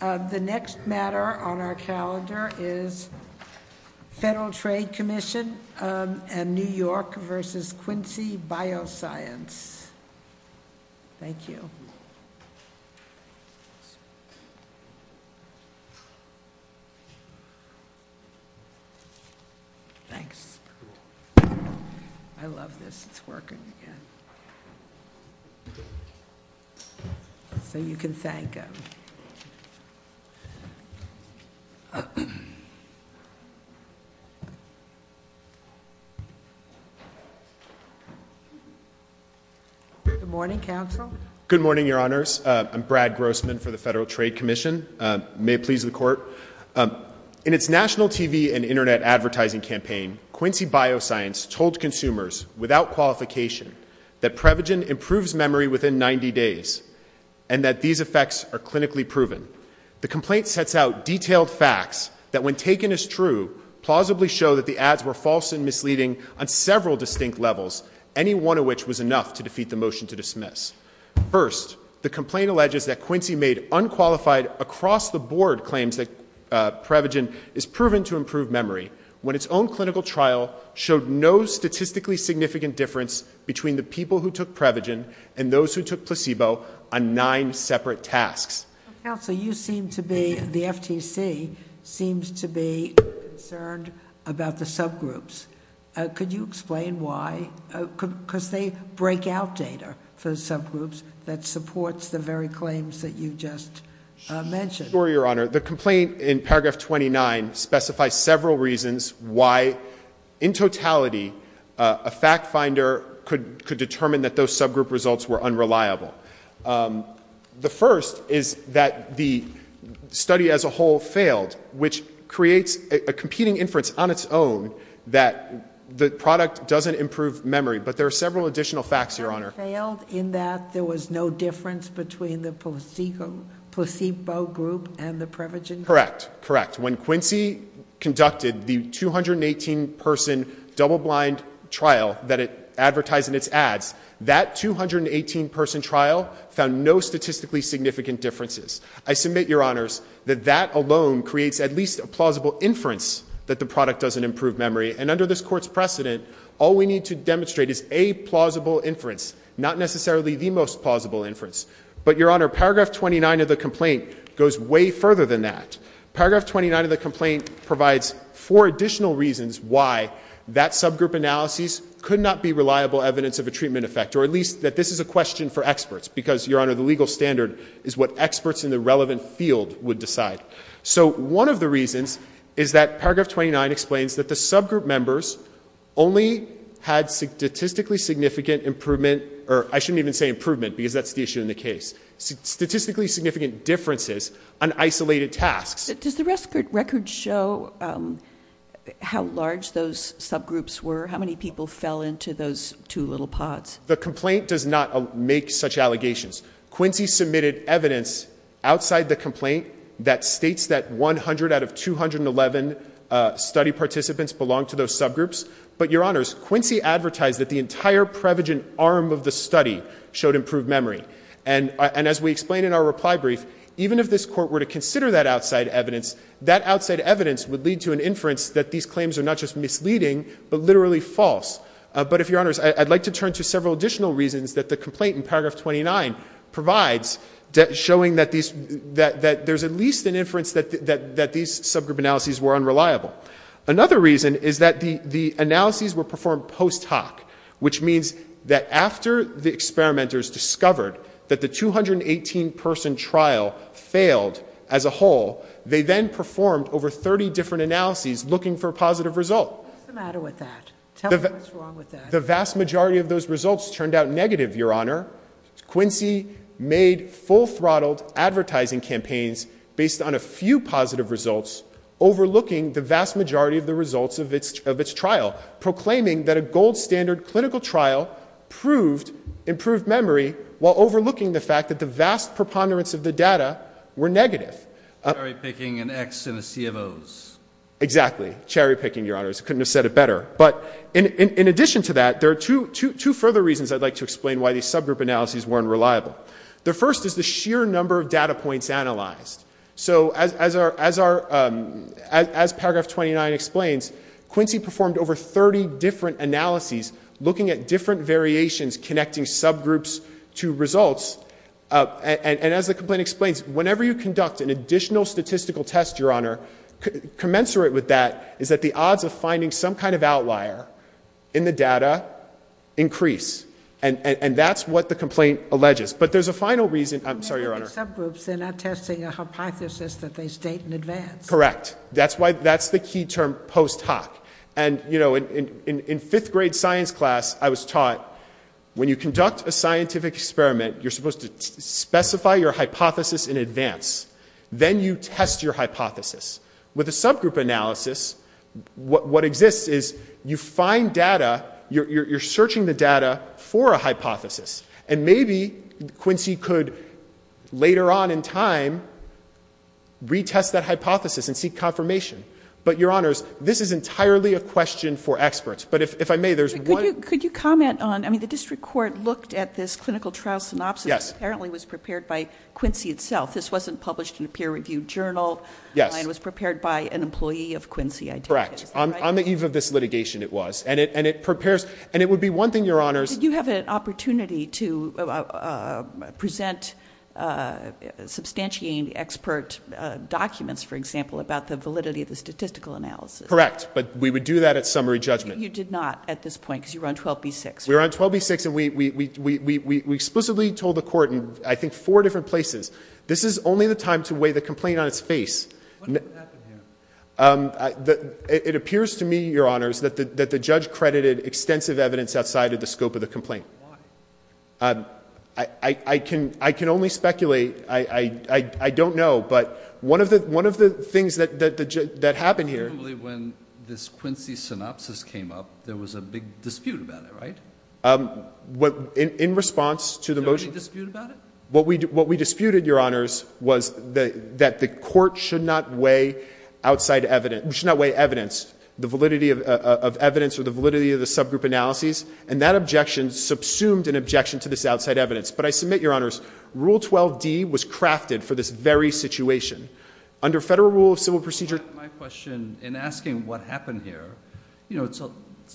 The next matter on our calendar is Federal Trade Commission and New York v. Quincy Bioscience. Thank you. Thanks. I love this, it's working again. So you can thank him. Thank you. Good morning, counsel. Good morning, your honors. I'm Brad Grossman for the Federal Trade Commission. May it please the court. In its national TV and internet advertising campaign, Quincy Bioscience told consumers without qualification that Prevagen improves memory within 90 days and that these effects are clinically proven. The complaint sets out detailed facts that, when taken as true, plausibly show that the ads were false and misleading on several distinct levels, any one of which was enough to defeat the motion to dismiss. First, the complaint alleges that Quincy made unqualified across the board claims that Prevagen is proven to improve memory when its own clinical trial showed no statistically significant difference between the people who took Prevagen and those who took placebo on nine separate tasks. Counsel, you seem to be, the FTC, seems to be concerned about the subgroups. Could you explain why? Because they break out data for subgroups that supports the very claims that you just mentioned. Sure, your honor. The complaint in paragraph 29 specifies several reasons why, in totality, a fact finder could determine that those subgroup results were unreliable. The first is that the study as a whole failed, which creates a competing inference on its own that the product doesn't improve memory. But there are several additional facts, your honor. Failed in that there was no difference between the placebo group and the Prevagen group? Correct. Correct. When Quincy conducted the 218-person double-blind trial that it advertised in its ads, that 218-person trial found no statistically significant differences. I submit, your honors, that that alone creates at least a plausible inference that the product doesn't improve memory. And under this court's precedent, all we need to demonstrate is a plausible inference, not necessarily the most plausible inference. But, your honor, paragraph 29 of the complaint goes way further than that. Paragraph 29 of the complaint provides four additional reasons why that subgroup analysis could not be reliable evidence of a treatment effect, or at least that this is a question for experts. Because, your honor, the legal standard is what experts in the relevant field would decide. So one of the reasons is that paragraph 29 explains that the subgroup members only had statistically significant improvement, or I shouldn't even say improvement because that's the issue in the case, statistically significant differences on isolated tasks. Does the record show how large those subgroups were? How many people fell into those two little pods? The complaint does not make such allegations. Quincy submitted evidence outside the complaint that states that 100 out of 211 study participants belong to those subgroups. But, your honors, Quincy advertised that the entire Prevagen arm of the study showed improved memory. And as we explain in our reply brief, even if this court were to consider that outside evidence, that outside evidence would lead to an inference that these claims are not just misleading, but literally false. But, if your honors, I'd like to turn to several additional reasons that the complaint in paragraph 29 provides, showing that there's at least an inference that these subgroup analyses were unreliable. Another reason is that the analyses were performed post hoc, which means that after the experimenters discovered that the 218 person trial failed as a whole, they then performed over 30 different analyses looking for a positive result. What's the matter with that? Tell me what's wrong with that. The vast majority of those results turned out negative, your honor. Quincy made full-throttled advertising campaigns based on a few positive results, overlooking the vast majority of the results of its trial, proclaiming that a gold standard clinical trial proved improved memory, while overlooking the fact that the vast preponderance of the data were negative. Cherry-picking an X in the C of O's. Exactly. Cherry-picking, your honors. Couldn't have said it better. But, in addition to that, there are two further reasons I'd like to explain why these subgroup analyses weren't reliable. The first is the sheer number of data points analyzed. So, as paragraph 29 explains, Quincy performed over 30 different analyses, looking at different variations connecting subgroups to results. And, as the complaint explains, whenever you conduct an additional statistical test, your honor, commensurate with that is that the odds of finding some kind of outlier in the data increase, and that's what the complaint alleges. But, there's a final reason. I'm sorry, your honor. Subgroups, they're not testing a hypothesis that they state in advance. Correct. That's why, that's the key term, post hoc. And, you know, in fifth grade science class, I was taught, when you conduct a scientific experiment, you're supposed to specify your hypothesis in advance. Then, you test your hypothesis. With a subgroup analysis, what exists is you find data, you're searching the data for a hypothesis. And, maybe, Quincy could, later on in time, retest that hypothesis and seek confirmation. But, your honors, this is entirely a question for experts. But, if I may, there's one. Could you comment on, I mean, the district court looked at this clinical trial synopsis. Yes. Apparently, it was prepared by Quincy itself. This wasn't published in a peer-reviewed journal. Yes. It was prepared by an employee of Quincy. Correct. On the eve of this litigation, it was. And, it prepares, and it would be one thing, your honors. Did you have an opportunity to present substantiating expert documents, for example, about the validity of the statistical analysis? Correct. But, we would do that at summary judgment. You did not at this point, because you were on 12B-6. We were on 12B-6. And, we explicitly told the court, in, I think, four different places, this is only the time to weigh the complaint on its face. What happened here? It appears to me, your honors, that the judge credited extensive evidence outside of the scope of the complaint. Why? I can only speculate. I don't know. But, one of the things that happened here. Probably, when this Quincy synopsis came up, there was a big dispute about it, right? In response to the motion. There was a dispute about it? What we disputed, your honors, was that the court should not weigh outside evidence, should not weigh evidence. The validity of evidence, or the validity of the subgroup analyses. And, that objection subsumed an objection to this outside evidence. But, I submit, your honors, Rule 12D was crafted for this very situation. Under federal rule of civil procedure. My question, in asking what happened here, you know, it's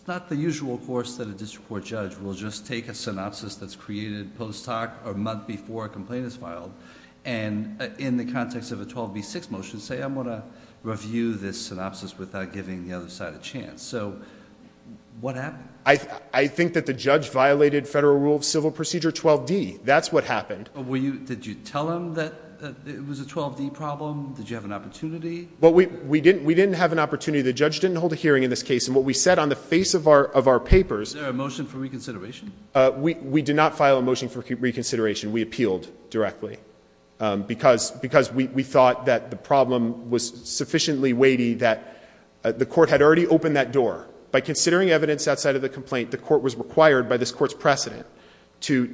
not the usual course that a district court judge will just take a synopsis that's created post hoc, or a month before a complaint is filed, and in the context of a 12B6 motion, say I'm going to review this synopsis without giving the other side a chance. So, what happened? I think that the judge violated federal rule of civil procedure 12D. That's what happened. Were you, did you tell him that it was a 12D problem? Did you have an opportunity? Well, we didn't have an opportunity. The judge didn't hold a hearing in this case. And, what we said on the face of our papers. Is there a motion for reconsideration? We did not file a motion for reconsideration. We appealed directly. Because we thought that the problem was sufficiently weighty that the court had already opened that door. By considering evidence outside of the complaint, the court was required by this court's precedent to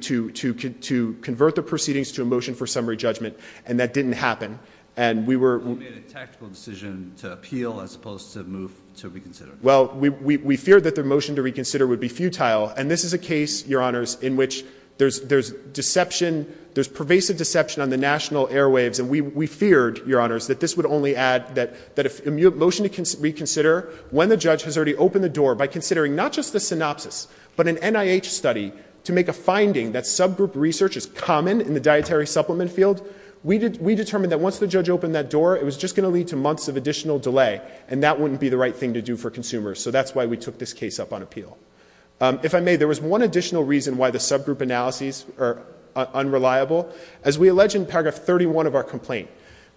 convert the proceedings to a motion for summary judgment. And that didn't happen. And we were. You made a tactical decision to appeal as opposed to move to reconsider. Well, we feared that the motion to reconsider would be futile. And this is a case, your honors, in which there's deception, there's pervasive deception on the national airwaves. And we feared, your honors, that this would only add that if a motion to reconsider when the judge has already opened the door. By considering not just the synopsis, but an NIH study to make a finding that subgroup research is common in the dietary supplement field. We determined that once the judge opened that door, it was just going to lead to months of additional delay. And that wouldn't be the right thing to do for consumers. So, that's why we took this case up on appeal. If I may, there was one additional reason why the subgroup analyses are unreliable. As we allege in paragraph 31 of our complaint,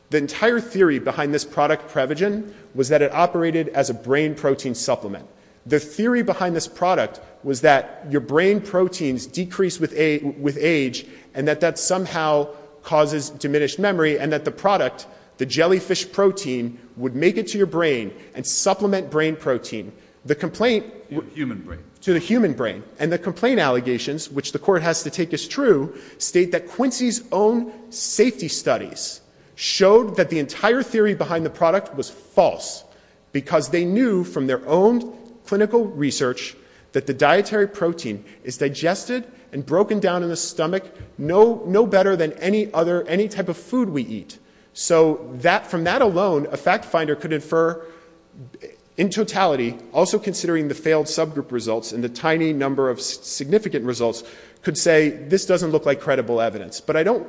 the entire theory behind this product, Prevagen, was that it operated as a brain protein supplement. The theory behind this product was that your brain proteins decrease with age and that that somehow causes diminished memory. And that the product, the jellyfish protein, would make it to your brain and supplement brain protein. The complaint- To the human brain. To the human brain. And the complaint allegations, which the court has to take as true, state that Quincy's own safety studies showed that the entire theory behind the product was false because they knew from their own clinical research that the dietary protein is digested and broken down in the stomach no better than any type of food we eat. So, from that alone, a fact finder could infer in totality, also considering the failed subgroup results and the tiny number of significant results, could say, this doesn't look like credible evidence. But I don't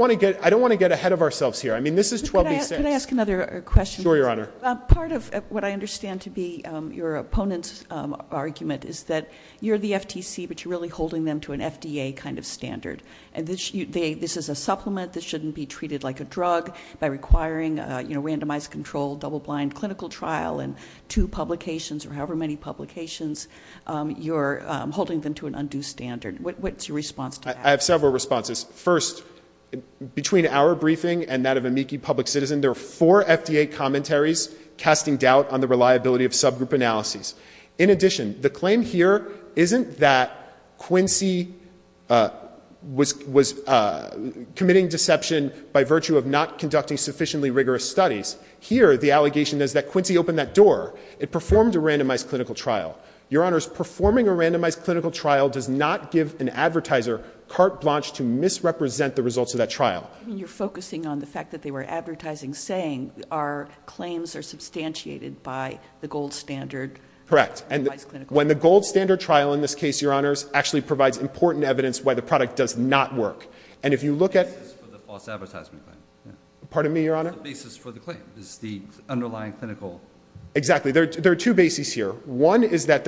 want to get ahead of ourselves here. I mean, this is 12B6. Can I ask another question? Sure, your honor. Part of what I understand to be your opponent's argument is that you're the FTC, but you're really holding them to an FDA kind of standard. And this is a supplement that shouldn't be treated like a drug by requiring a randomized controlled double-blind clinical trial in two publications, or however many publications, you're holding them to an undue standard. What's your response to that? I have several responses. First, between our briefing and that of a Meeki public citizen, there are four FDA commentaries casting doubt on the reliability of subgroup analyses. In addition, the claim here isn't that Quincy was committing deception by virtue of not conducting sufficiently rigorous studies. Here, the allegation is that Quincy opened that door. It performed a randomized clinical trial. Your honors, performing a randomized clinical trial does not give an advertiser carte blanche to misrepresent the results of that trial. You're focusing on the fact that they were advertising, saying our claims are substantiated by the gold standard. Correct, and when the gold standard trial, in this case, your honors, actually provides important evidence why the product does not work. And if you look at- It's the basis for the false advertisement claim. Pardon me, your honor? It's the basis for the claim. It's the underlying clinical. Exactly, there are two bases here. One is that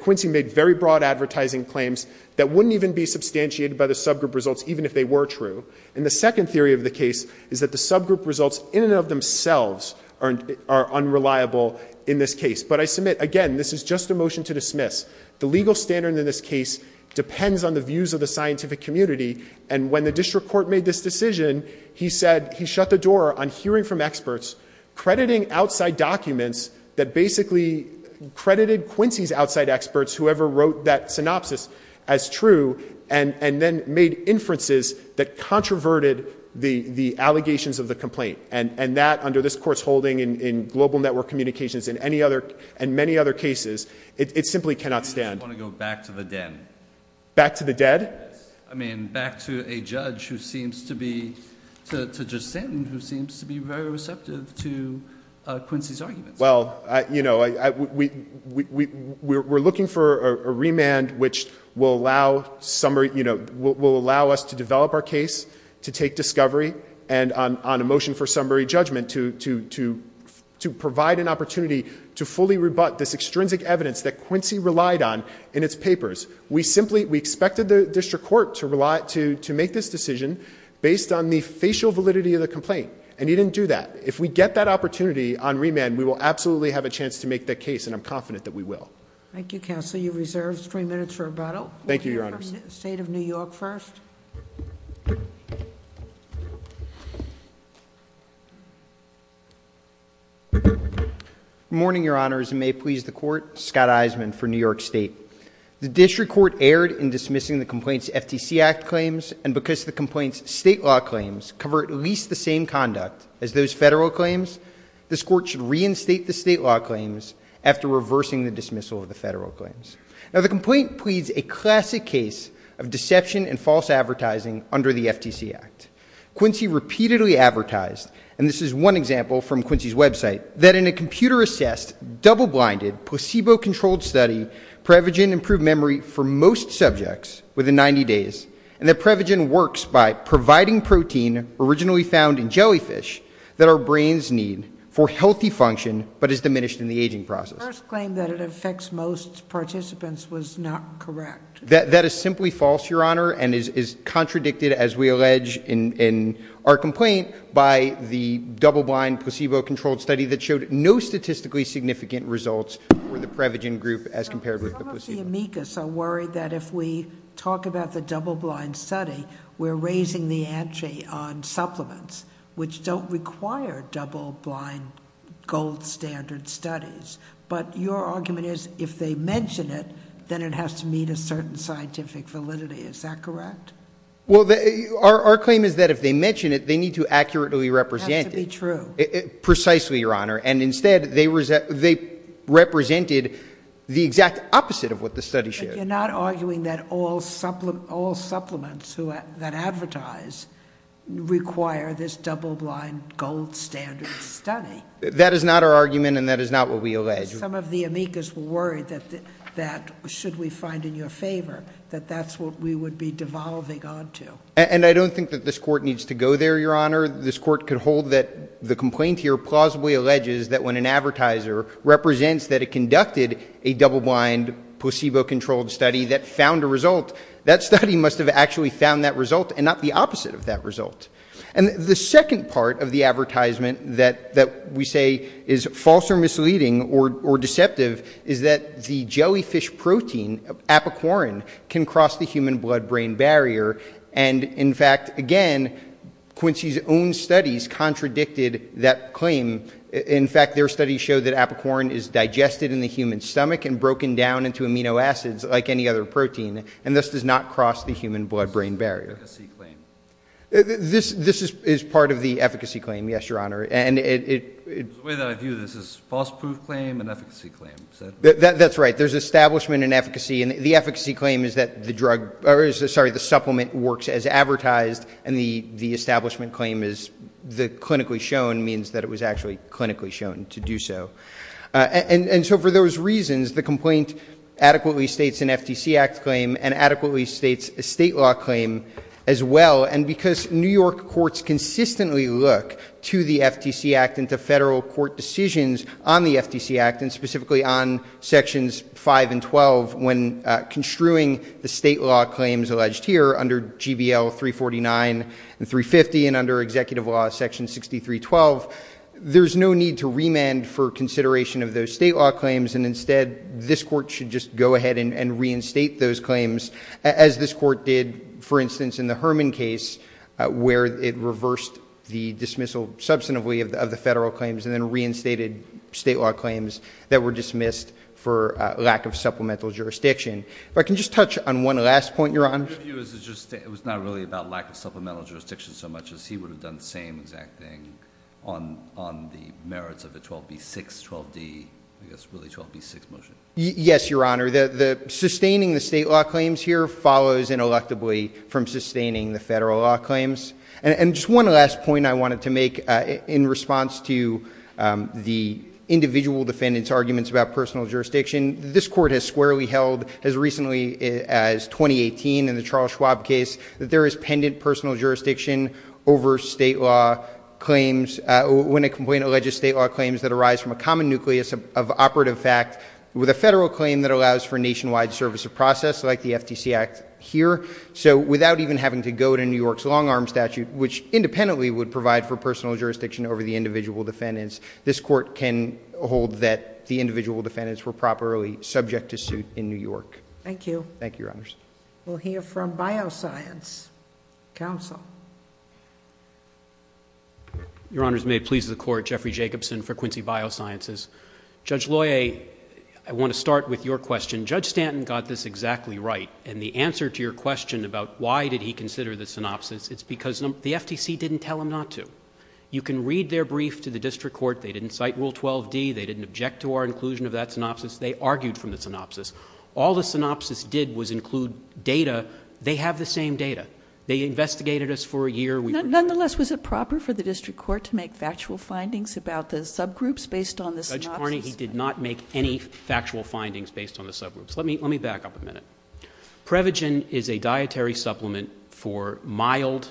Quincy made very broad advertising claims that wouldn't even be substantiated by the subgroup results, even if they were true. And the second theory of the case is that the subgroup results in and of themselves are unreliable in this case. But I submit, again, this is just a motion to dismiss. The legal standard in this case depends on the views of the scientific community. And when the district court made this decision, he said he shut the door on hearing from experts, crediting outside documents that basically credited Quincy's outside experts, whoever wrote that synopsis, as true, and then made inferences that controverted the allegations of the complaint. And that, under this court's holding in global network communications and many other cases, it simply cannot stand. I want to go back to the dead. Back to the dead? I mean, back to a judge who seems to be, to just stand, who seems to be very receptive to Quincy's arguments. Well, we're looking for a remand which will allow us to develop our case, to take discovery, and on a motion for summary judgment to provide an opportunity to fully rebut this extrinsic evidence that Quincy relied on in its papers. We simply, we expected the district court to make this decision based on the facial validity of the complaint. And he didn't do that. If we get that opportunity on remand, we will absolutely have a chance to make that case, and I'm confident that we will. Thank you, Counsel. You're reserved three minutes for rebuttal. Thank you, Your Honors. State of New York first. Morning, Your Honors, and may it please the court. Scott Isman for New York State. The district court erred in dismissing the complaint's FTC Act claims, and because the complaint's state law claims cover at least the same conduct as those federal claims, this court should reinstate the state law claims after reversing the dismissal of the federal claims. Now, the complaint pleads a classic case of deception and false advertising under the FTC Act. Quincy repeatedly advertised, and this is one example from Quincy's website, that in a computer assessed, double-blinded, placebo-controlled study, Prevagen improved memory for most subjects within 90 days, and that Prevagen works by providing protein originally found in jellyfish that our brains need for healthy function, but is diminished in the aging process. First claim that it affects most participants was not correct. That is simply false, Your Honor, and is contradicted, as we allege in our complaint, by the double-blind, placebo-controlled study that showed no statistically significant results for the Prevagen group as compared with the placebo. Some of the amicus are worried that if we talk about the double-blind study, we're raising the ante on supplements, which don't require double-blind gold standard studies. But your argument is, if they mention it, then it has to meet a certain scientific validity. Is that correct? Well, our claim is that if they mention it, they need to accurately represent it. It has to be true. Precisely, Your Honor, and instead, they represented the exact opposite of what the study showed. But you're not arguing that all supplements that advertise require this double-blind gold standard study. That is not our argument, and that is not what we allege. Some of the amicus were worried that, should we find in your favor, that that's what we would be devolving on to. And I don't think that this court needs to go there, Your Honor. This court could hold that the complaint here plausibly alleges that when an advertiser represents that it conducted a double-blind, placebo-controlled study that found a result, that study must have actually found that result and not the opposite of that result. And the second part of the advertisement that we say is false or misleading or deceptive is that the jellyfish protein, apicorin, can cross the human blood-brain barrier. And, in fact, again, Quincy's own studies contradicted that claim. In fact, their studies show that apicorin is digested in the human stomach and broken down into amino acids like any other protein, and thus does not cross the human blood-brain barrier. This is part of the efficacy claim, yes, Your Honor, and it- The way that I view this is false proof claim and efficacy claim, is that- That's right, there's establishment and efficacy, and the efficacy claim is that the drug, or sorry, the supplement works as advertised, and the establishment claim is the clinically shown means that it was actually clinically shown to do so. And so for those reasons, the complaint adequately states an FTC Act claim and adequately states a state law claim as well, and because New York courts consistently look to the FTC Act and to federal court decisions on the FTC Act and specifically on sections 5 and 12 when construing the state law claims alleged here, under GBL 349 and 350, and under executive law section 6312. There's no need to remand for consideration of those state law claims, and as this court did, for instance, in the Herman case, where it reversed the dismissal substantively of the federal claims, and then reinstated state law claims that were dismissed for lack of supplemental jurisdiction. If I can just touch on one last point, Your Honor. Your view is that it was not really about lack of supplemental jurisdiction so much as he would have done the same exact thing on the merits of the 12B6, 12D, I guess really 12B6 motion. Yes, Your Honor, sustaining the state law claims here follows ineluctably from sustaining the federal law claims. And just one last point I wanted to make in response to the individual defendant's arguments about personal jurisdiction. This court has squarely held, as recently as 2018 in the Charles Schwab case, that there is pendant personal jurisdiction over state law claims when a complaint alleges state law claims that arise from a common nucleus of operative fact with a federal claim that allows for nationwide service of process like the FTC Act here, so without even having to go to New York's long arm statute, which independently would provide for personal jurisdiction over the individual defendants, this court can hold that the individual defendants were properly subject to suit in New York. Thank you. Thank you, Your Honors. We'll hear from Bioscience Council. Your Honors, may it please the court, Jeffrey Jacobson for Quincy Biosciences. Judge Loyer, I want to start with your question. Judge Stanton got this exactly right. And the answer to your question about why did he consider the synopsis, it's because the FTC didn't tell him not to. You can read their brief to the district court. They didn't cite Rule 12D, they didn't object to our inclusion of that synopsis, they argued from the synopsis. All the synopsis did was include data. They have the same data. They investigated us for a year. Nonetheless, was it proper for the district court to make factual findings about the subgroups based on the synopsis? Judge Carney, he did not make any factual findings based on the subgroups. Let me back up a minute. Prevagen is a dietary supplement for mild,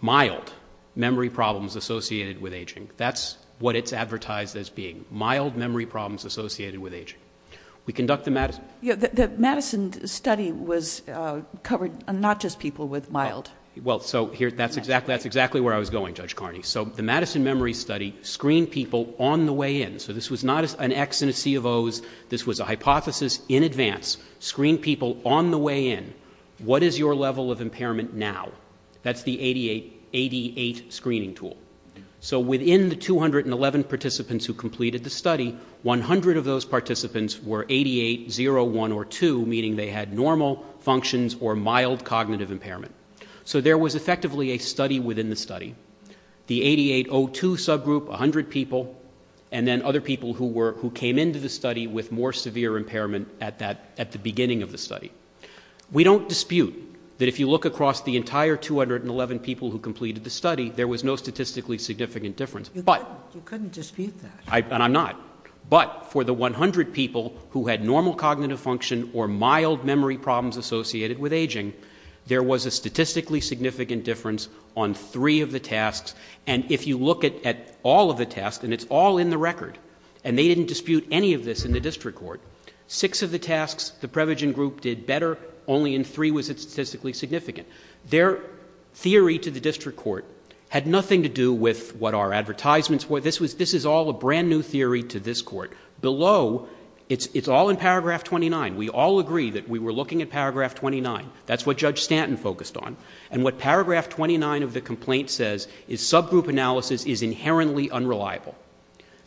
mild memory problems associated with aging. That's what it's advertised as being. Mild memory problems associated with aging. We conduct the medicine. The medicine study was covered not just people with mild. Well, so that's exactly where I was going, Judge Carney. So the Madison Memory Study screened people on the way in. So this was not an X and a C of Os. This was a hypothesis in advance. Screened people on the way in. What is your level of impairment now? That's the 88 screening tool. So within the 211 participants who completed the study, 100 of those participants were 88, 0, 1, or 2, meaning they had normal functions or mild cognitive impairment. So there was effectively a study within the study. The 8802 subgroup, 100 people. And then other people who came into the study with more severe impairment at the beginning of the study. We don't dispute that if you look across the entire 211 people who completed the study, there was no statistically significant difference. But- You couldn't dispute that. And I'm not. But for the 100 people who had normal cognitive function or mild memory problems associated with aging, there was a statistically significant difference on three of the tasks. And if you look at all of the tasks, and it's all in the record, and they didn't dispute any of this in the district court. Six of the tasks, the Prevagen group did better. Only in three was it statistically significant. Their theory to the district court had nothing to do with what our advertisements were. This is all a brand new theory to this court. Below, it's all in paragraph 29. We all agree that we were looking at paragraph 29. That's what Judge Stanton focused on. And what paragraph 29 of the complaint says is subgroup analysis is inherently unreliable.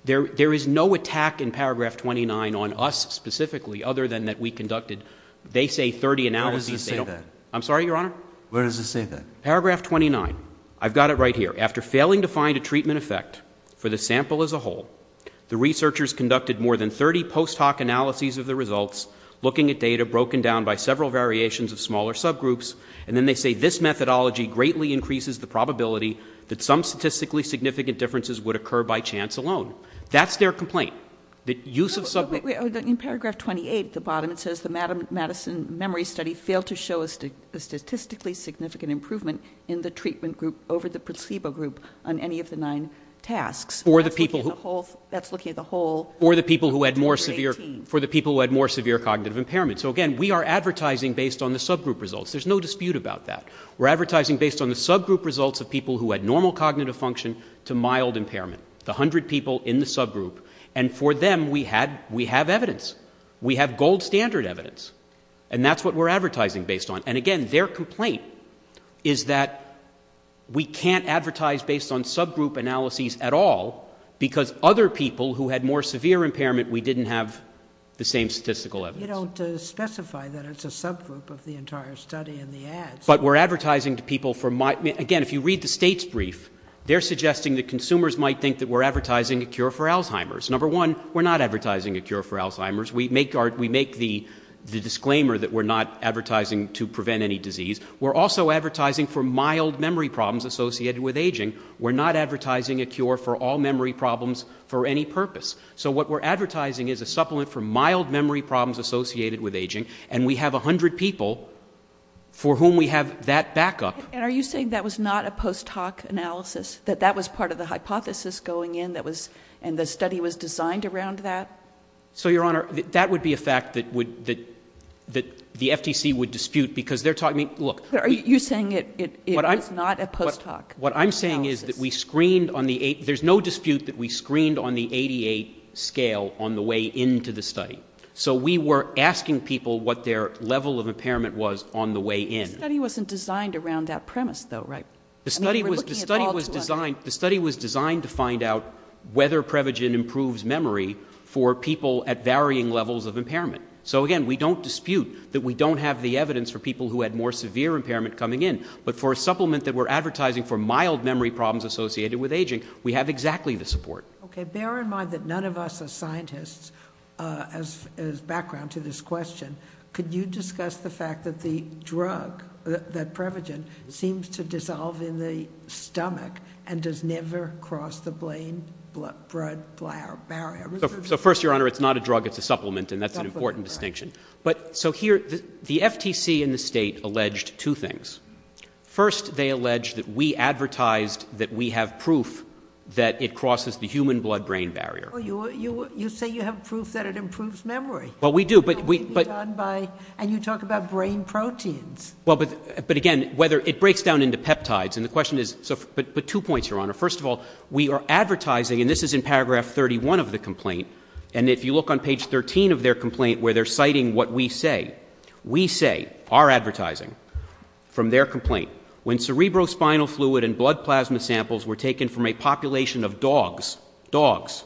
There is no attack in paragraph 29 on us specifically, other than that we conducted, they say, 30 analyses. They don't- I'm sorry, Your Honor? Where does it say that? Paragraph 29. I've got it right here. After failing to find a treatment effect for the sample as a whole, the researchers conducted more than 30 post hoc analyses of the results, looking at data broken down by several variations of smaller subgroups. And then they say this methodology greatly increases the probability that some statistically significant differences would occur by chance alone. That's their complaint. The use of subgroups- In paragraph 28 at the bottom, it says the Madison Memory Study failed to show a statistically significant improvement in the treatment group over the placebo group on any of the nine tasks. That's looking at the whole- For the people who had more severe cognitive impairment. So again, we are advertising based on the subgroup results. There's no dispute about that. We're advertising based on the subgroup results of people who had normal cognitive function to mild impairment. The hundred people in the subgroup. And for them, we have evidence. We have gold standard evidence. And that's what we're advertising based on. And again, their complaint is that we can't advertise based on subgroup analyses at all because other people who had more severe impairment, we didn't have the same statistical evidence. You don't specify that it's a subgroup of the entire study in the ads. But we're advertising to people for mild- Again, if you read the state's brief, they're suggesting that consumers might think that we're advertising a cure for Alzheimer's. Number one, we're not advertising a cure for Alzheimer's. We make the disclaimer that we're not advertising to prevent any disease. We're also advertising for mild memory problems associated with aging. We're not advertising a cure for all memory problems for any purpose. So what we're advertising is a supplement for mild memory problems associated with aging. And we have 100 people for whom we have that backup. And are you saying that was not a post hoc analysis? That that was part of the hypothesis going in that was, and the study was designed around that? So your honor, that would be a fact that would, that the FTC would dispute because they're talking, look. Are you saying it was not a post hoc analysis? What I'm saying is that we screened on the, there's no dispute that we screened on the 88 scale on the way into the study. So we were asking people what their level of impairment was on the way in. The study wasn't designed around that premise though, right? I mean, we're looking at all 200. The study was designed to find out whether Prevagen improves memory for people at varying levels of impairment. So again, we don't dispute that we don't have the evidence for people who had more severe impairment coming in. But for a supplement that we're advertising for mild memory problems associated with aging, we have exactly the support. Okay, bear in mind that none of us are scientists as background to this question. Could you discuss the fact that the drug, that Prevagen, seems to dissolve in the stomach and does never cross the brain blood barrier? So first, your honor, it's not a drug, it's a supplement, and that's an important distinction. But, so here, the FTC and the state alleged two things. First, they alleged that we advertised that we have proof that it crosses the human blood brain barrier. You say you have proof that it improves memory. Well, we do, but- And you talk about brain proteins. Well, but again, it breaks down into peptides, and the question is, but two points, your honor. First of all, we are advertising, and this is in paragraph 31 of the complaint, and if you look on page 13 of their complaint, where they're citing what we say, we say, our advertising, from their complaint, when cerebrospinal fluid and blood plasma samples were taken from a population of dogs, dogs,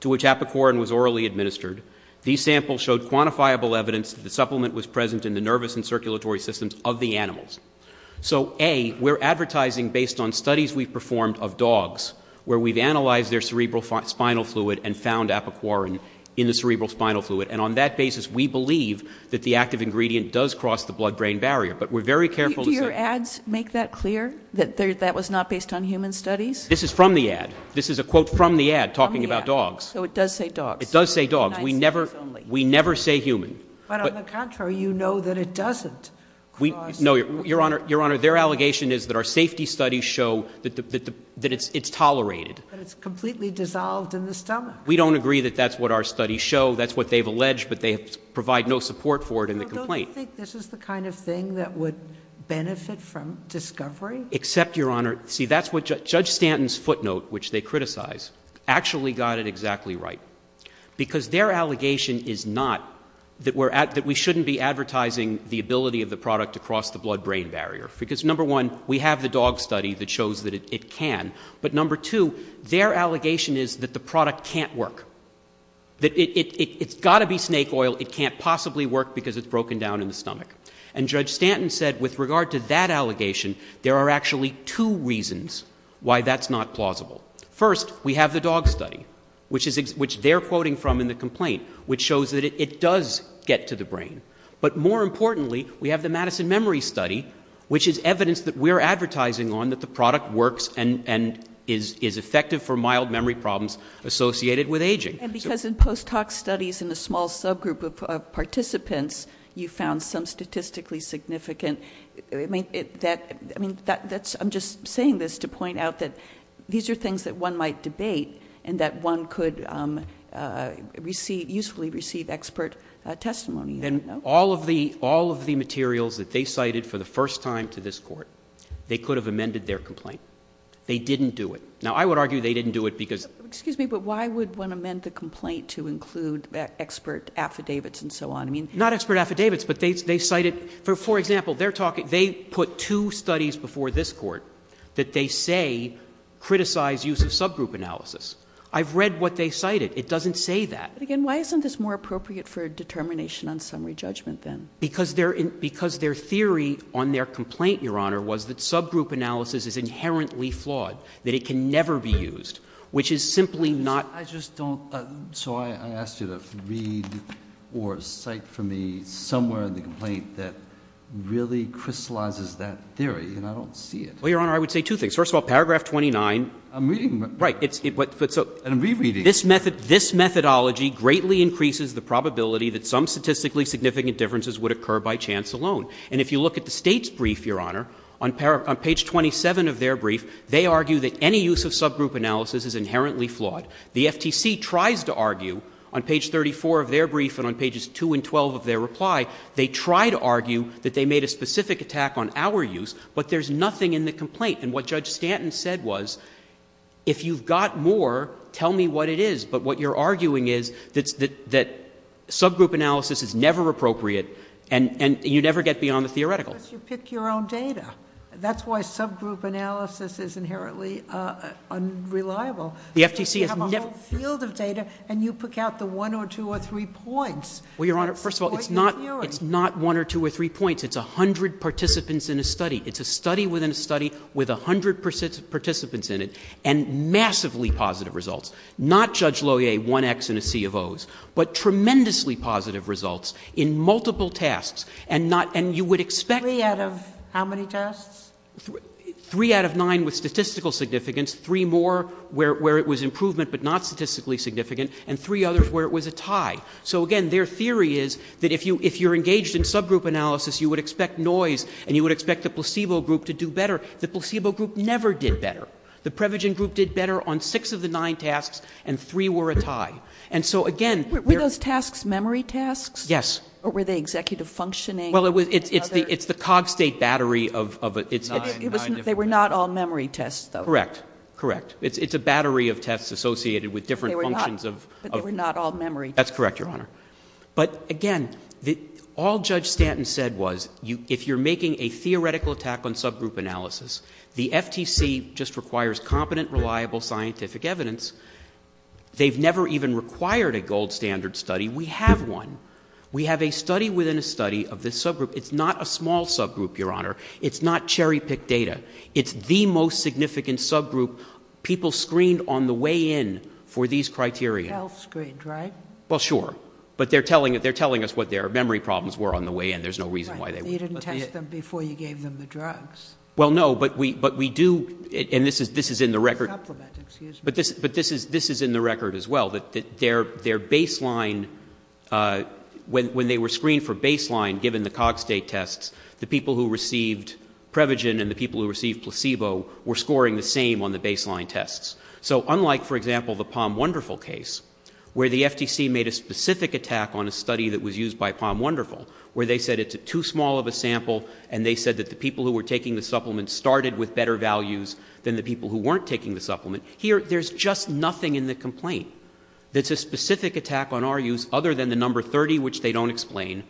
to which apoquarin was orally administered, these samples showed quantifiable evidence that the supplement was present in the nervous and circulatory systems of the animals. So A, we're advertising based on studies we've performed of dogs, where we've analyzed their cerebrospinal fluid and found apoquarin in the cerebrospinal fluid. And on that basis, we believe that the active ingredient does cross the blood brain barrier, but we're very careful to say- Do your ads make that clear, that that was not based on human studies? This is from the ad. This is a quote from the ad, talking about dogs. So it does say dogs. It does say dogs. We never say human. But on the contrary, you know that it doesn't cross- No, your honor, their allegation is that our safety studies show that it's tolerated. But it's completely dissolved in the stomach. We don't agree that that's what our studies show. That's what they've alleged, but they provide no support for it in the complaint. So don't you think this is the kind of thing that would benefit from discovery? Except, your honor, see that's what Judge Stanton's footnote, which they criticize, actually got it exactly right. Because their allegation is not that we shouldn't be advertising the ability of the product to cross the blood brain barrier. Because number one, we have the dog study that shows that it can. But number two, their allegation is that the product can't work. That it's gotta be snake oil, it can't possibly work because it's broken down in the stomach. And Judge Stanton said with regard to that allegation, there are actually two reasons why that's not plausible. First, we have the dog study, which they're quoting from in the complaint, which shows that it does get to the brain. But more importantly, we have the Madison Memory Study, which is evidence that we're advertising on that the product works and is effective for mild memory problems associated with aging. And because in post hoc studies in a small subgroup of participants, you found some statistically significant. I mean, I'm just saying this to point out that these are things that one might debate and that one could usefully receive expert testimony. And all of the materials that they cited for the first time to this court, they could have amended their complaint. They didn't do it. Now, I would argue they didn't do it because- The complaint to include expert affidavits and so on. Not expert affidavits, but they cited, for example, they put two studies before this court. That they say criticize use of subgroup analysis. I've read what they cited. It doesn't say that. But again, why isn't this more appropriate for determination on summary judgment then? Because their theory on their complaint, Your Honor, was that subgroup analysis is inherently flawed. That it can never be used, which is simply not- I just don't, so I asked you to read or cite for me somewhere in the complaint that really crystallizes that theory. And I don't see it. Well, Your Honor, I would say two things. First of all, paragraph 29- I'm reading. Right, but so- And I'm rereading. This methodology greatly increases the probability that some statistically significant differences would occur by chance alone. And if you look at the state's brief, Your Honor, on page 27 of their brief, they argue that any use of subgroup analysis is inherently flawed. The FTC tries to argue, on page 34 of their brief and on pages 2 and 12 of their reply, they try to argue that they made a specific attack on our use, but there's nothing in the complaint. And what Judge Stanton said was, if you've got more, tell me what it is. But what you're arguing is that subgroup analysis is never appropriate and you never get beyond the theoretical. Because you pick your own data. That's why subgroup analysis is inherently unreliable. Because you have a whole field of data and you pick out the one or two or three points. Well, Your Honor, first of all, it's not one or two or three points. It's a hundred participants in a study. It's a study within a study with a hundred participants in it. And massively positive results. Not Judge Lohier, one X and a C of O's, but tremendously positive results in multiple tasks. And you would expect- Three out of how many tests? Three out of nine with statistical significance. Three more where it was improvement but not statistically significant. And three others where it was a tie. So again, their theory is that if you're engaged in subgroup analysis, you would expect noise and you would expect the placebo group to do better. The placebo group never did better. The Prevagen group did better on six of the nine tasks and three were a tie. And so again- Were those tasks memory tasks? Yes. Or were they executive functioning? Well, it's the cog state battery of- They were not all memory tests, though. Correct. Correct. It's a battery of tests associated with different functions of- But they were not all memory tests. That's correct, Your Honor. But again, all Judge Stanton said was, if you're making a theoretical attack on subgroup analysis, the FTC just requires competent, reliable scientific evidence. They've never even required a gold standard study. We have one. We have a study within a study of this subgroup. It's not a small subgroup, Your Honor. It's not cherry-picked data. It's the most significant subgroup people screened on the way in for these criteria. Health screened, right? Well, sure. But they're telling us what their memory problems were on the way in. There's no reason why they would- Right, but you didn't test them before you gave them the drugs. Well, no, but we do, and this is in the record- Supplement, excuse me. But this is in the record as well, that their baseline, when they were screened for baseline given the Cogstate tests, the people who received Prevagen and the people who received placebo were scoring the same on the baseline tests. So unlike, for example, the Palm Wonderful case, where the FTC made a specific attack on a study that was used by Palm Wonderful, where they said it's too small of a sample, and they said that the people who were taking the supplement started with better values than the people who weren't taking the supplement. Here, there's just nothing in the complaint that's a specific attack on our use other than the number 30, which they don't explain,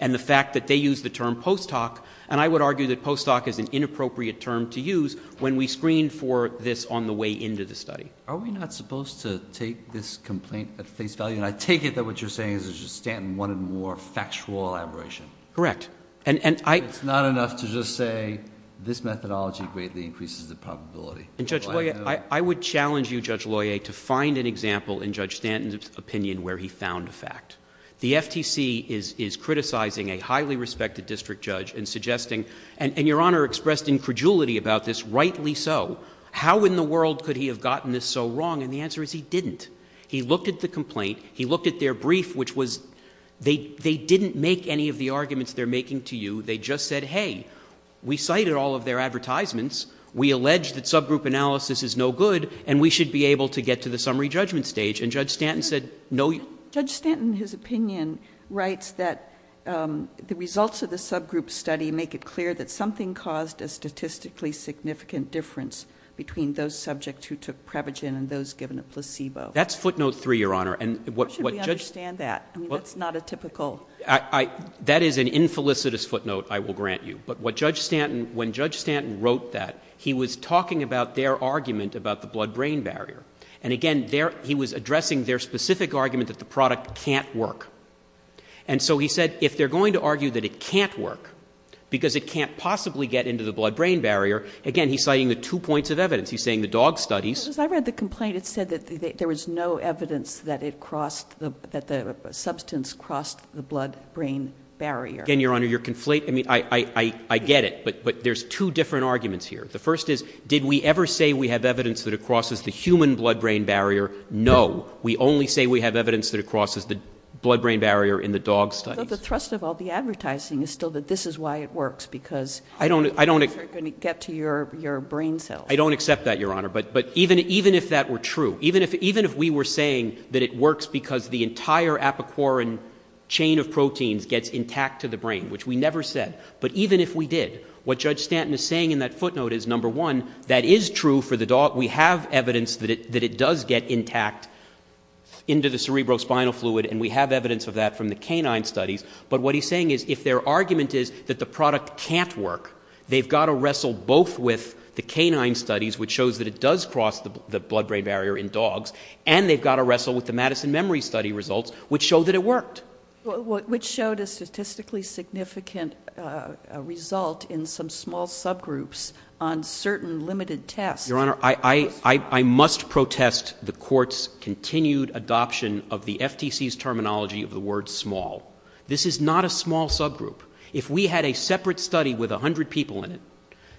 and the fact that they use the term post hoc, and I would argue that post hoc is an inappropriate term to use when we screen for this on the way into the study. Are we not supposed to take this complaint at face value? And I take it that what you're saying is just standing one and more factual elaboration. Correct. And I- It's not enough to just say this methodology greatly increases the probability. And Judge Loyer, I would challenge you, Judge Loyer, to find an example in Judge Stanton's opinion where he found a fact. The FTC is criticizing a highly respected district judge and suggesting, and your Honor expressed incredulity about this, rightly so, how in the world could he have gotten this so wrong? And the answer is he didn't. He looked at the complaint, he looked at their brief, which was, they didn't make any of the arguments they're making to you. They just said, hey, we cited all of their advertisements. We allege that subgroup analysis is no good, and we should be able to get to the summary judgment stage. And Judge Stanton said, no- Judge Stanton, his opinion, writes that the results of the subgroup study make it clear that something caused a statistically significant difference between those subjects who took Prevagen and those given a placebo. That's footnote three, Your Honor, and what- How should we understand that? I mean, that's not a typical- That is an infelicitous footnote, I will grant you. But what Judge Stanton, when Judge Stanton wrote that, he was talking about their argument about the blood-brain barrier. And again, he was addressing their specific argument that the product can't work. And so he said, if they're going to argue that it can't work, because it can't possibly get into the blood-brain barrier, again, he's citing the two points of evidence, he's saying the dog studies- Because I read the complaint, it said that there was no evidence that the substance crossed the blood-brain barrier. Again, Your Honor, your conflate- I mean, I get it, but there's two different arguments here. The first is, did we ever say we have evidence that it crosses the human blood-brain barrier? No. We only say we have evidence that it crosses the blood-brain barrier in the dog studies. But the thrust of all the advertising is still that this is why it works, because- I don't- Because they're going to get to your brain cells. I don't accept that, Your Honor, but even if that were true, even if we were saying that it works because the entire apiquorin chain of proteins gets intact to the brain, which we never said, but even if we did, what Judge Stanton is saying in that footnote is, number one, that is true for the dog. We have evidence that it does get intact into the cerebrospinal fluid, and we have evidence of that from the canine studies. But what he's saying is, if their argument is that the product can't work, they've got to wrestle both with the canine studies, which shows that it does cross the blood-brain barrier in dogs, and they've got to wrestle with the Madison Memory Study results, which show that it worked. Which showed a statistically significant result in some small subgroups on certain limited tests. Your Honor, I must protest the court's continued adoption of the FTC's terminology of the word small. This is not a small subgroup. If we had a separate study with 100 people in it,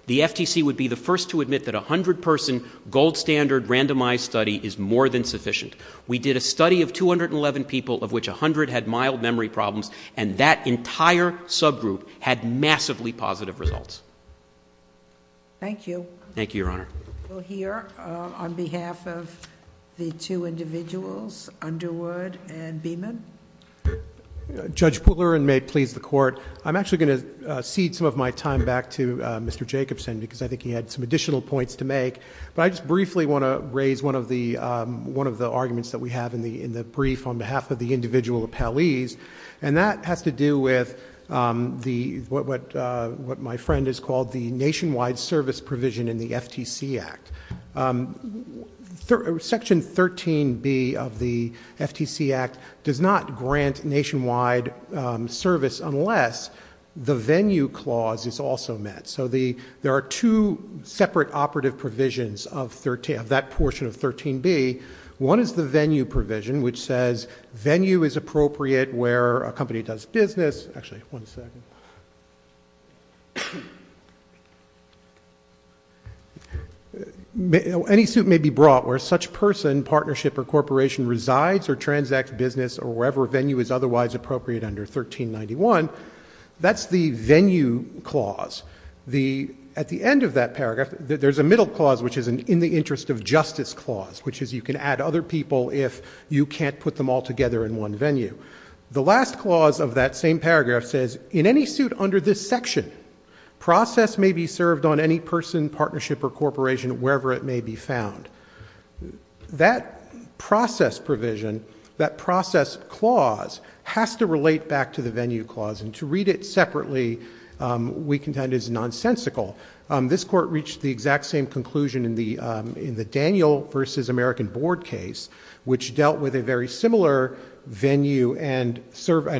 the FTC would be the first to admit that a 100 person, gold standard, randomized study is more than sufficient. We did a study of 211 people, of which 100 had mild memory problems, and that entire subgroup had massively positive results. Thank you. Thank you, Your Honor. We'll hear on behalf of the two individuals, Underwood and Beeman. Judge Pooler, and may it please the court. I'm actually going to cede some of my time back to Mr. Jacobson, because I think he had some additional points to make. But I just briefly want to raise one of the arguments that we have in the brief on behalf of the individual appellees. And that has to do with what my friend has called the nationwide service provision in the FTC Act. Section 13B of the FTC Act does not grant nationwide service unless the venue clause is also met. So there are two separate operative provisions of that portion of 13B. One is the venue provision, which says venue is appropriate where a company does business. Actually, one second. Any suit may be brought where such person, partnership, or corporation resides or transacts business or wherever venue is otherwise appropriate under 1391. That's the venue clause. At the end of that paragraph, there's a middle clause, which is an in the interest of justice clause, which is you can add other people if you can't put them all together in one venue. The last clause of that same paragraph says, in any suit under this section, process may be served on any person, partnership, or corporation wherever it may be found. That process provision, that process clause, has to relate back to the venue clause. And to read it separately, we contend is nonsensical. This court reached the exact same conclusion in the Daniel versus American Board case, which dealt with a very similar venue and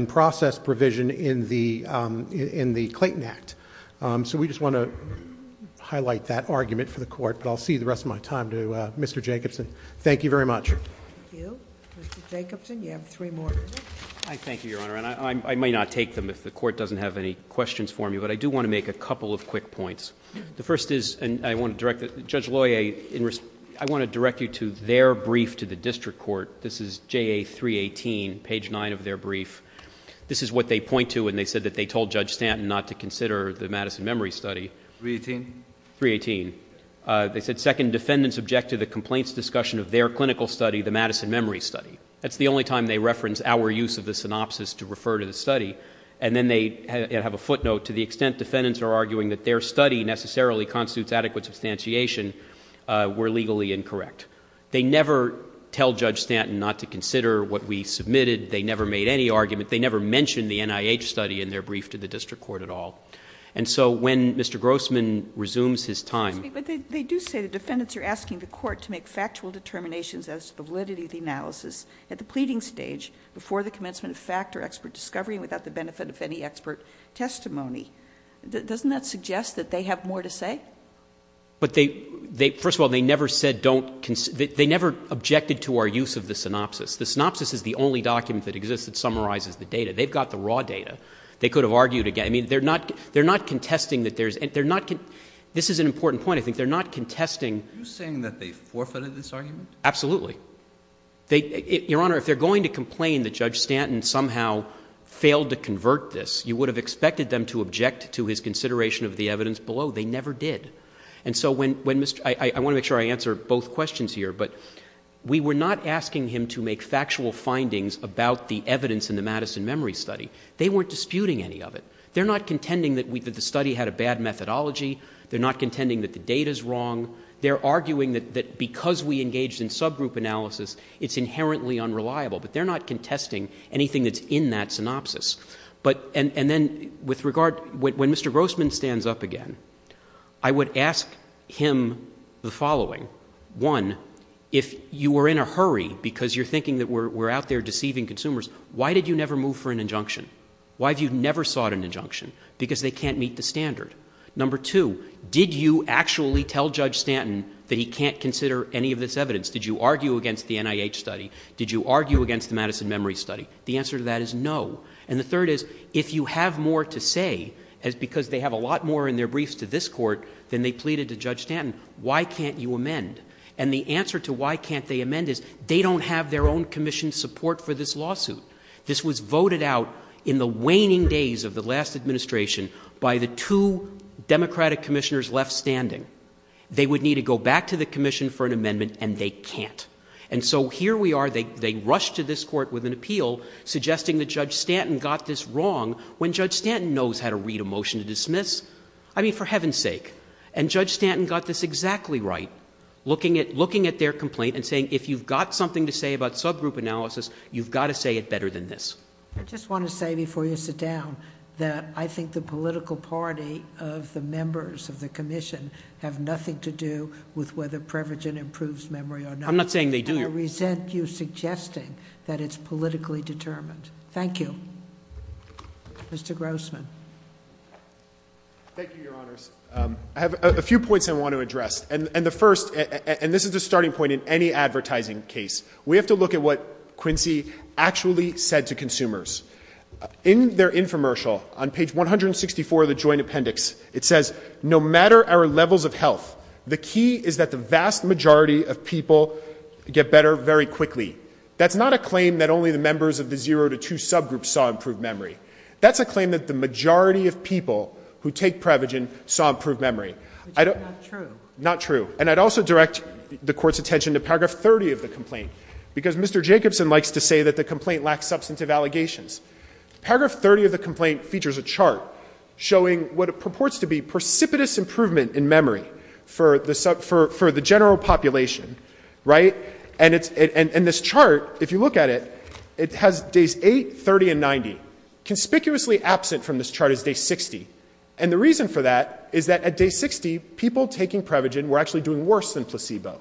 process provision in the Clayton Act. So we just want to highlight that argument for the court. But I'll see the rest of my time to Mr. Jacobson. Thank you very much. Thank you. Mr. Jacobson, you have three more minutes. I thank you, Your Honor. And I may not take them if the court doesn't have any questions for me. But I do want to make a couple of quick points. The first is, and I want to direct Judge Loyer, I want to direct you to their brief to the district court. This is JA 318, page nine of their brief. This is what they point to when they said that they told Judge Stanton not to consider the Madison Memory Study. 318? 318. They said, second, defendants object to the complaints discussion of their clinical study, the Madison Memory Study. That's the only time they reference our use of the synopsis to refer to the study. And then they have a footnote, to the extent defendants are arguing that their study necessarily constitutes adequate substantiation, we're legally incorrect. They never tell Judge Stanton not to consider what we submitted. They never made any argument. They never mentioned the NIH study in their brief to the district court at all. And so when Mr. Grossman resumes his time- But they do say the defendants are asking the court to make factual determinations as to the validity of the analysis at the pleading stage, before the commencement of fact or expert discovery, without the benefit of any expert testimony. Doesn't that suggest that they have more to say? But they, first of all, they never said don't, they never objected to our use of the synopsis. The synopsis is the only document that exists that summarizes the data. They've got the raw data. They could have argued again. I mean, they're not contesting that there's, this is an important point, I think they're not contesting- Are you saying that they forfeited this argument? Absolutely. Your Honor, if they're going to complain that Judge Stanton somehow failed to convert this, you would have expected them to object to his consideration of the evidence below. They never did. And so when, I want to make sure I answer both questions here, but we were not asking him to make factual findings about the evidence in the Madison Memory Study. They weren't disputing any of it. They're not contending that the study had a bad methodology. They're not contending that the data's wrong. They're arguing that because we engaged in subgroup analysis, it's inherently unreliable. But they're not contesting anything that's in that synopsis. But, and then with regard, when Mr. Grossman stands up again, I would ask him the following. One, if you were in a hurry because you're thinking that we're out there deceiving consumers, why did you never move for an injunction? Why have you never sought an injunction? Because they can't meet the standard. Number two, did you actually tell Judge Stanton that he can't consider any of this evidence? Did you argue against the NIH study? Did you argue against the Madison Memory Study? The answer to that is no. And the third is, if you have more to say, because they have a lot more in their briefs to this court than they pleaded to Judge Stanton, why can't you amend? And the answer to why can't they amend is, they don't have their own commission support for this lawsuit. This was voted out in the waning days of the last administration by the two Democratic commissioners left standing. They would need to go back to the commission for an amendment, and they can't. And so here we are, they rush to this court with an appeal suggesting that Judge Stanton got this wrong when Judge Stanton knows how to read a motion to dismiss. I mean, for heaven's sake. And Judge Stanton got this exactly right, looking at their complaint and saying, if you've got something to say about subgroup analysis, you've got to say it better than this. I just want to say before you sit down that I think the political party of the members of the commission have nothing to do with whether Prevagen improves memory or not. I'm not saying they do. I resent you suggesting that it's politically determined. Thank you. Mr. Grossman. Thank you, your honors. I have a few points I want to address. And the first, and this is a starting point in any advertising case. We have to look at what Quincy actually said to consumers. In their infomercial, on page 164 of the joint appendix, it says, no matter our levels of health, the key is that the vast majority of people get better very quickly. That's not a claim that only the members of the zero to two subgroups saw improved memory. That's a claim that the majority of people who take Prevagen saw improved memory. Which is not true. Not true. And I'd also direct the court's attention to paragraph 30 of the complaint. Because Mr. Jacobson likes to say that the complaint lacks substantive allegations. Paragraph 30 of the complaint features a chart showing what it purports to be precipitous improvement in memory for the general population, right? And this chart, if you look at it, it has days eight, 30, and 90. Conspicuously absent from this chart is day 60. And the reason for that is that at day 60, people taking Prevagen were actually doing worse than placebo.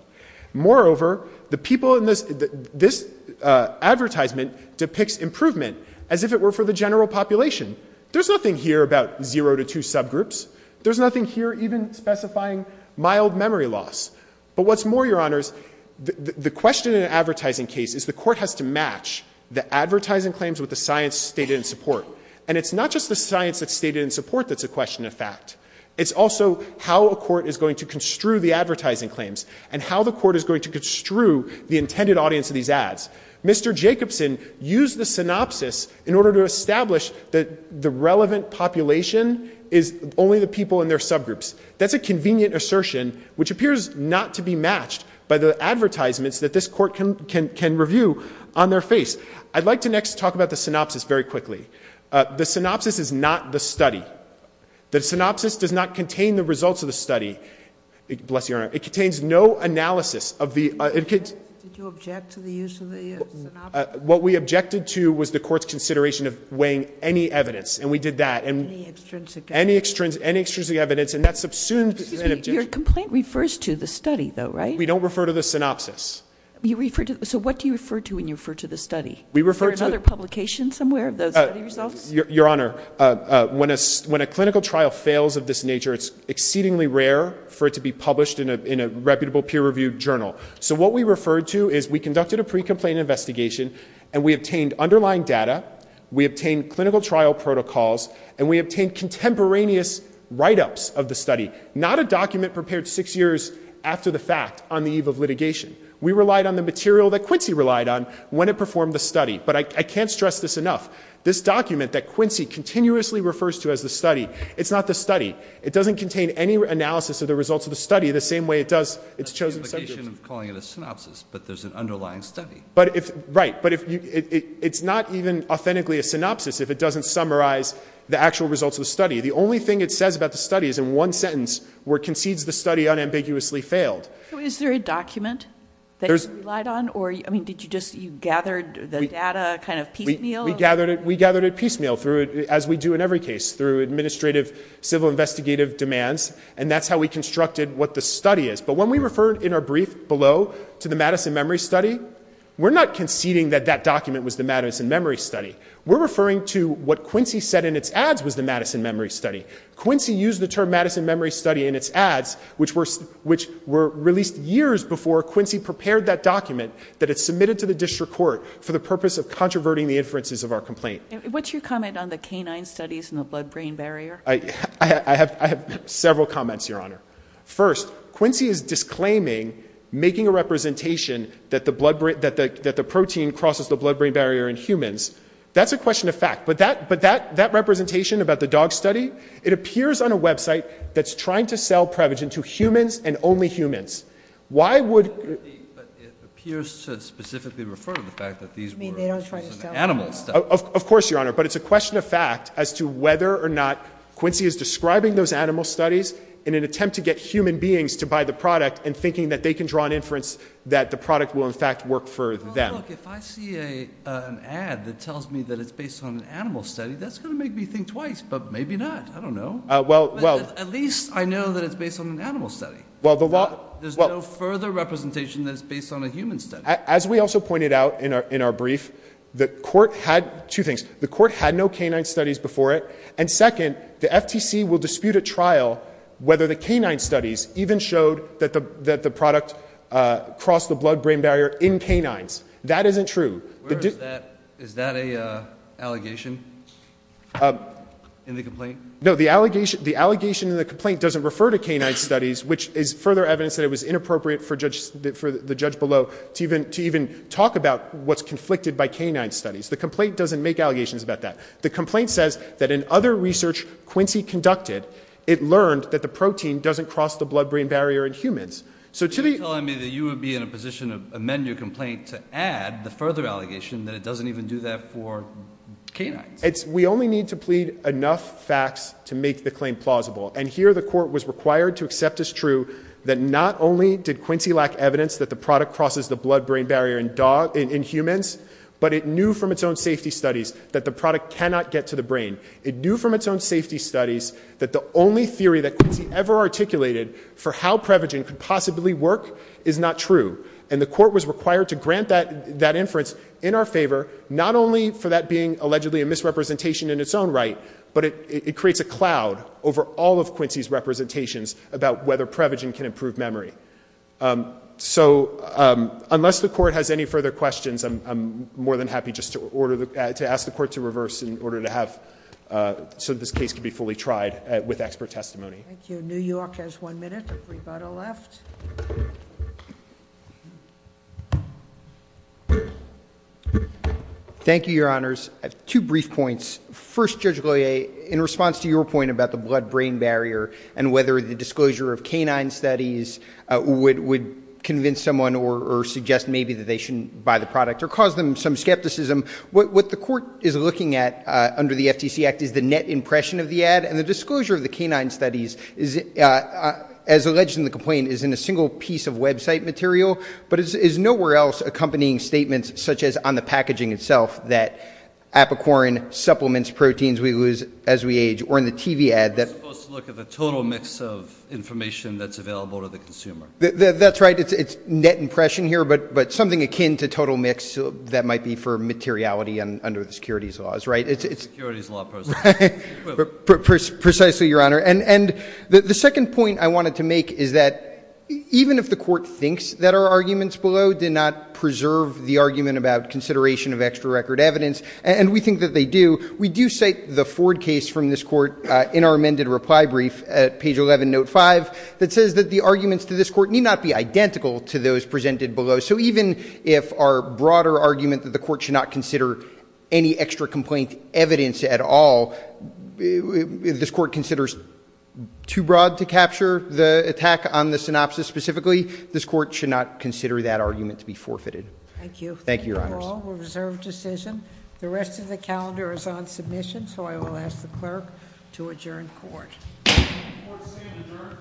Moreover, the people in this advertisement depicts improvement as if it were for the general population. There's nothing here about zero to two subgroups. There's nothing here even specifying mild memory loss. But what's more, your honors, the question in an advertising case is the court has to match the advertising claims with the science stated in support. And it's not just the science that's stated in support that's a question of fact. It's also how a court is going to construe the advertising claims and how the court is going to construe the intended audience of these ads. Mr. Jacobson used the synopsis in order to establish that the relevant population is only the people in their subgroups. That's a convenient assertion, which appears not to be matched by the advertisements that this court can review on their face. I'd like to next talk about the synopsis very quickly. The synopsis is not the study. The synopsis does not contain the results of the study, bless your honor. It contains no analysis of the- Did you object to the use of the synopsis? What we objected to was the court's consideration of weighing any evidence, and we did that. Any extrinsic evidence. And that subsumes- Excuse me, your complaint refers to the study though, right? We don't refer to the synopsis. You refer to, so what do you refer to when you refer to the study? We refer to- Is there another publication somewhere of those results? Your honor, when a clinical trial fails of this nature, it's exceedingly rare for it to be published in a reputable peer reviewed journal. So what we referred to is we conducted a pre-complaint investigation, and we obtained underlying data. We obtained clinical trial protocols, and we obtained contemporaneous write-ups of the study. Not a document prepared six years after the fact on the eve of litigation. We relied on the material that Quincy relied on when it performed the study. But I can't stress this enough. This document that Quincy continuously refers to as the study, it's not the study. It doesn't contain any analysis of the results of the study the same way it does its chosen subjects. That's the implication of calling it a synopsis, but there's an underlying study. Right, but it's not even authentically a synopsis if it doesn't summarize the actual results of the study. The only thing it says about the study is in one sentence, where it concedes the study unambiguously failed. Is there a document that you relied on, or did you just, you gathered the data kind of piecemeal? We gathered it piecemeal, as we do in every case, through administrative civil investigative demands. And that's how we constructed what the study is. But when we refer in our brief below to the Madison Memory Study, we're not conceding that that document was the Madison Memory Study. We're referring to what Quincy said in its ads was the Madison Memory Study. Quincy used the term Madison Memory Study in its ads, which were released years before Quincy prepared that document that it submitted to the district court for the purpose of controverting the inferences of our complaint. What's your comment on the canine studies and the blood-brain barrier? I have several comments, Your Honor. First, Quincy is disclaiming making a representation that the protein crosses the blood-brain barrier in humans. That's a question of fact. But that representation about the dog study, it appears on a website that's trying to sell Prevagen to humans and only humans. Why would- But it appears to specifically refer to the fact that these were- I mean, they don't try to sell- Animal studies. Of course, Your Honor. But it's a question of fact as to whether or not Quincy is describing those animal studies in an attempt to get human beings to buy the product and thinking that they can draw an inference that the product will, in fact, work for them. Well, look, if I see an ad that tells me that it's based on an animal study, that's going to make me think twice. But maybe not. I don't know. Well, well- At least I know that it's based on an animal study. Well, the law- There's no further representation that it's based on a human study. As we also pointed out in our brief, the court had two things. The court had no canine studies before it. And second, the FTC will dispute at trial whether the canine studies even showed that the product crossed the blood-brain barrier in canines. That isn't true. Where is that- Is that an allegation in the complaint? No, the allegation in the complaint doesn't refer to canine studies, which is further evidence that it was inappropriate for the judge below to even talk about what's conflicted by canine studies. The complaint doesn't make allegations about that. The complaint says that in other research Quincy conducted, it learned that the protein doesn't cross the blood-brain barrier in humans. So to the- You're telling me that you would be in a position to amend your complaint to add the further allegation that it doesn't even do that for canines. We only need to plead enough facts to make the claim plausible. And here the court was required to accept as true that not only did Quincy lack evidence that the product crosses the blood-brain barrier in humans, but it knew from its own safety studies that the product cannot get to the brain. It knew from its own safety studies that the only theory that Quincy ever articulated for how Prevagen could possibly work is not true, and the court was required to grant that inference in our favor. Not only for that being allegedly a misrepresentation in its own right, but it creates a cloud over all of Quincy's representations about whether Prevagen can improve memory. So, unless the court has any further questions, I'm more than happy just to ask the court to reverse in order to have, so this case can be fully tried with expert testimony. Thank you. New York has one minute of rebuttal left. Thank you, your honors. Two brief points. First, Judge Goyer, in response to your point about the blood-brain barrier and whether the disclosure of canine studies would convince someone or suggest maybe that they shouldn't buy the product or cause them some skepticism. What the court is looking at under the FTC Act is the net impression of the ad and the disclosure of the canine studies, as alleged in the complaint, is in a single piece of website material. But it's nowhere else accompanying statements such as on the packaging itself that apricorn supplements proteins we lose as we age, or in the TV ad that- It's supposed to look at the total mix of information that's available to the consumer. That's right, it's net impression here, but something akin to total mix that might be for materiality under the securities laws, right? It's- Securities law person. Precisely, your honor. And the second point I wanted to make is that even if the court thinks that our arguments below did not preserve the argument about consideration of extra record evidence, and we think that they do, we do cite the Ford case from this court in our amended reply brief at page 11, note five, that says that the arguments to this court need not be identical to those presented below. So even if our broader argument that the court should not consider any extra complaint evidence at all, if this court considers too broad to capture the attack on the synopsis specifically, this court should not consider that argument to be forfeited. Thank you. Thank you, your honors. Thank you all, we'll reserve decision. The rest of the calendar is on submission, so I will ask the clerk to adjourn court. Court is adjourned.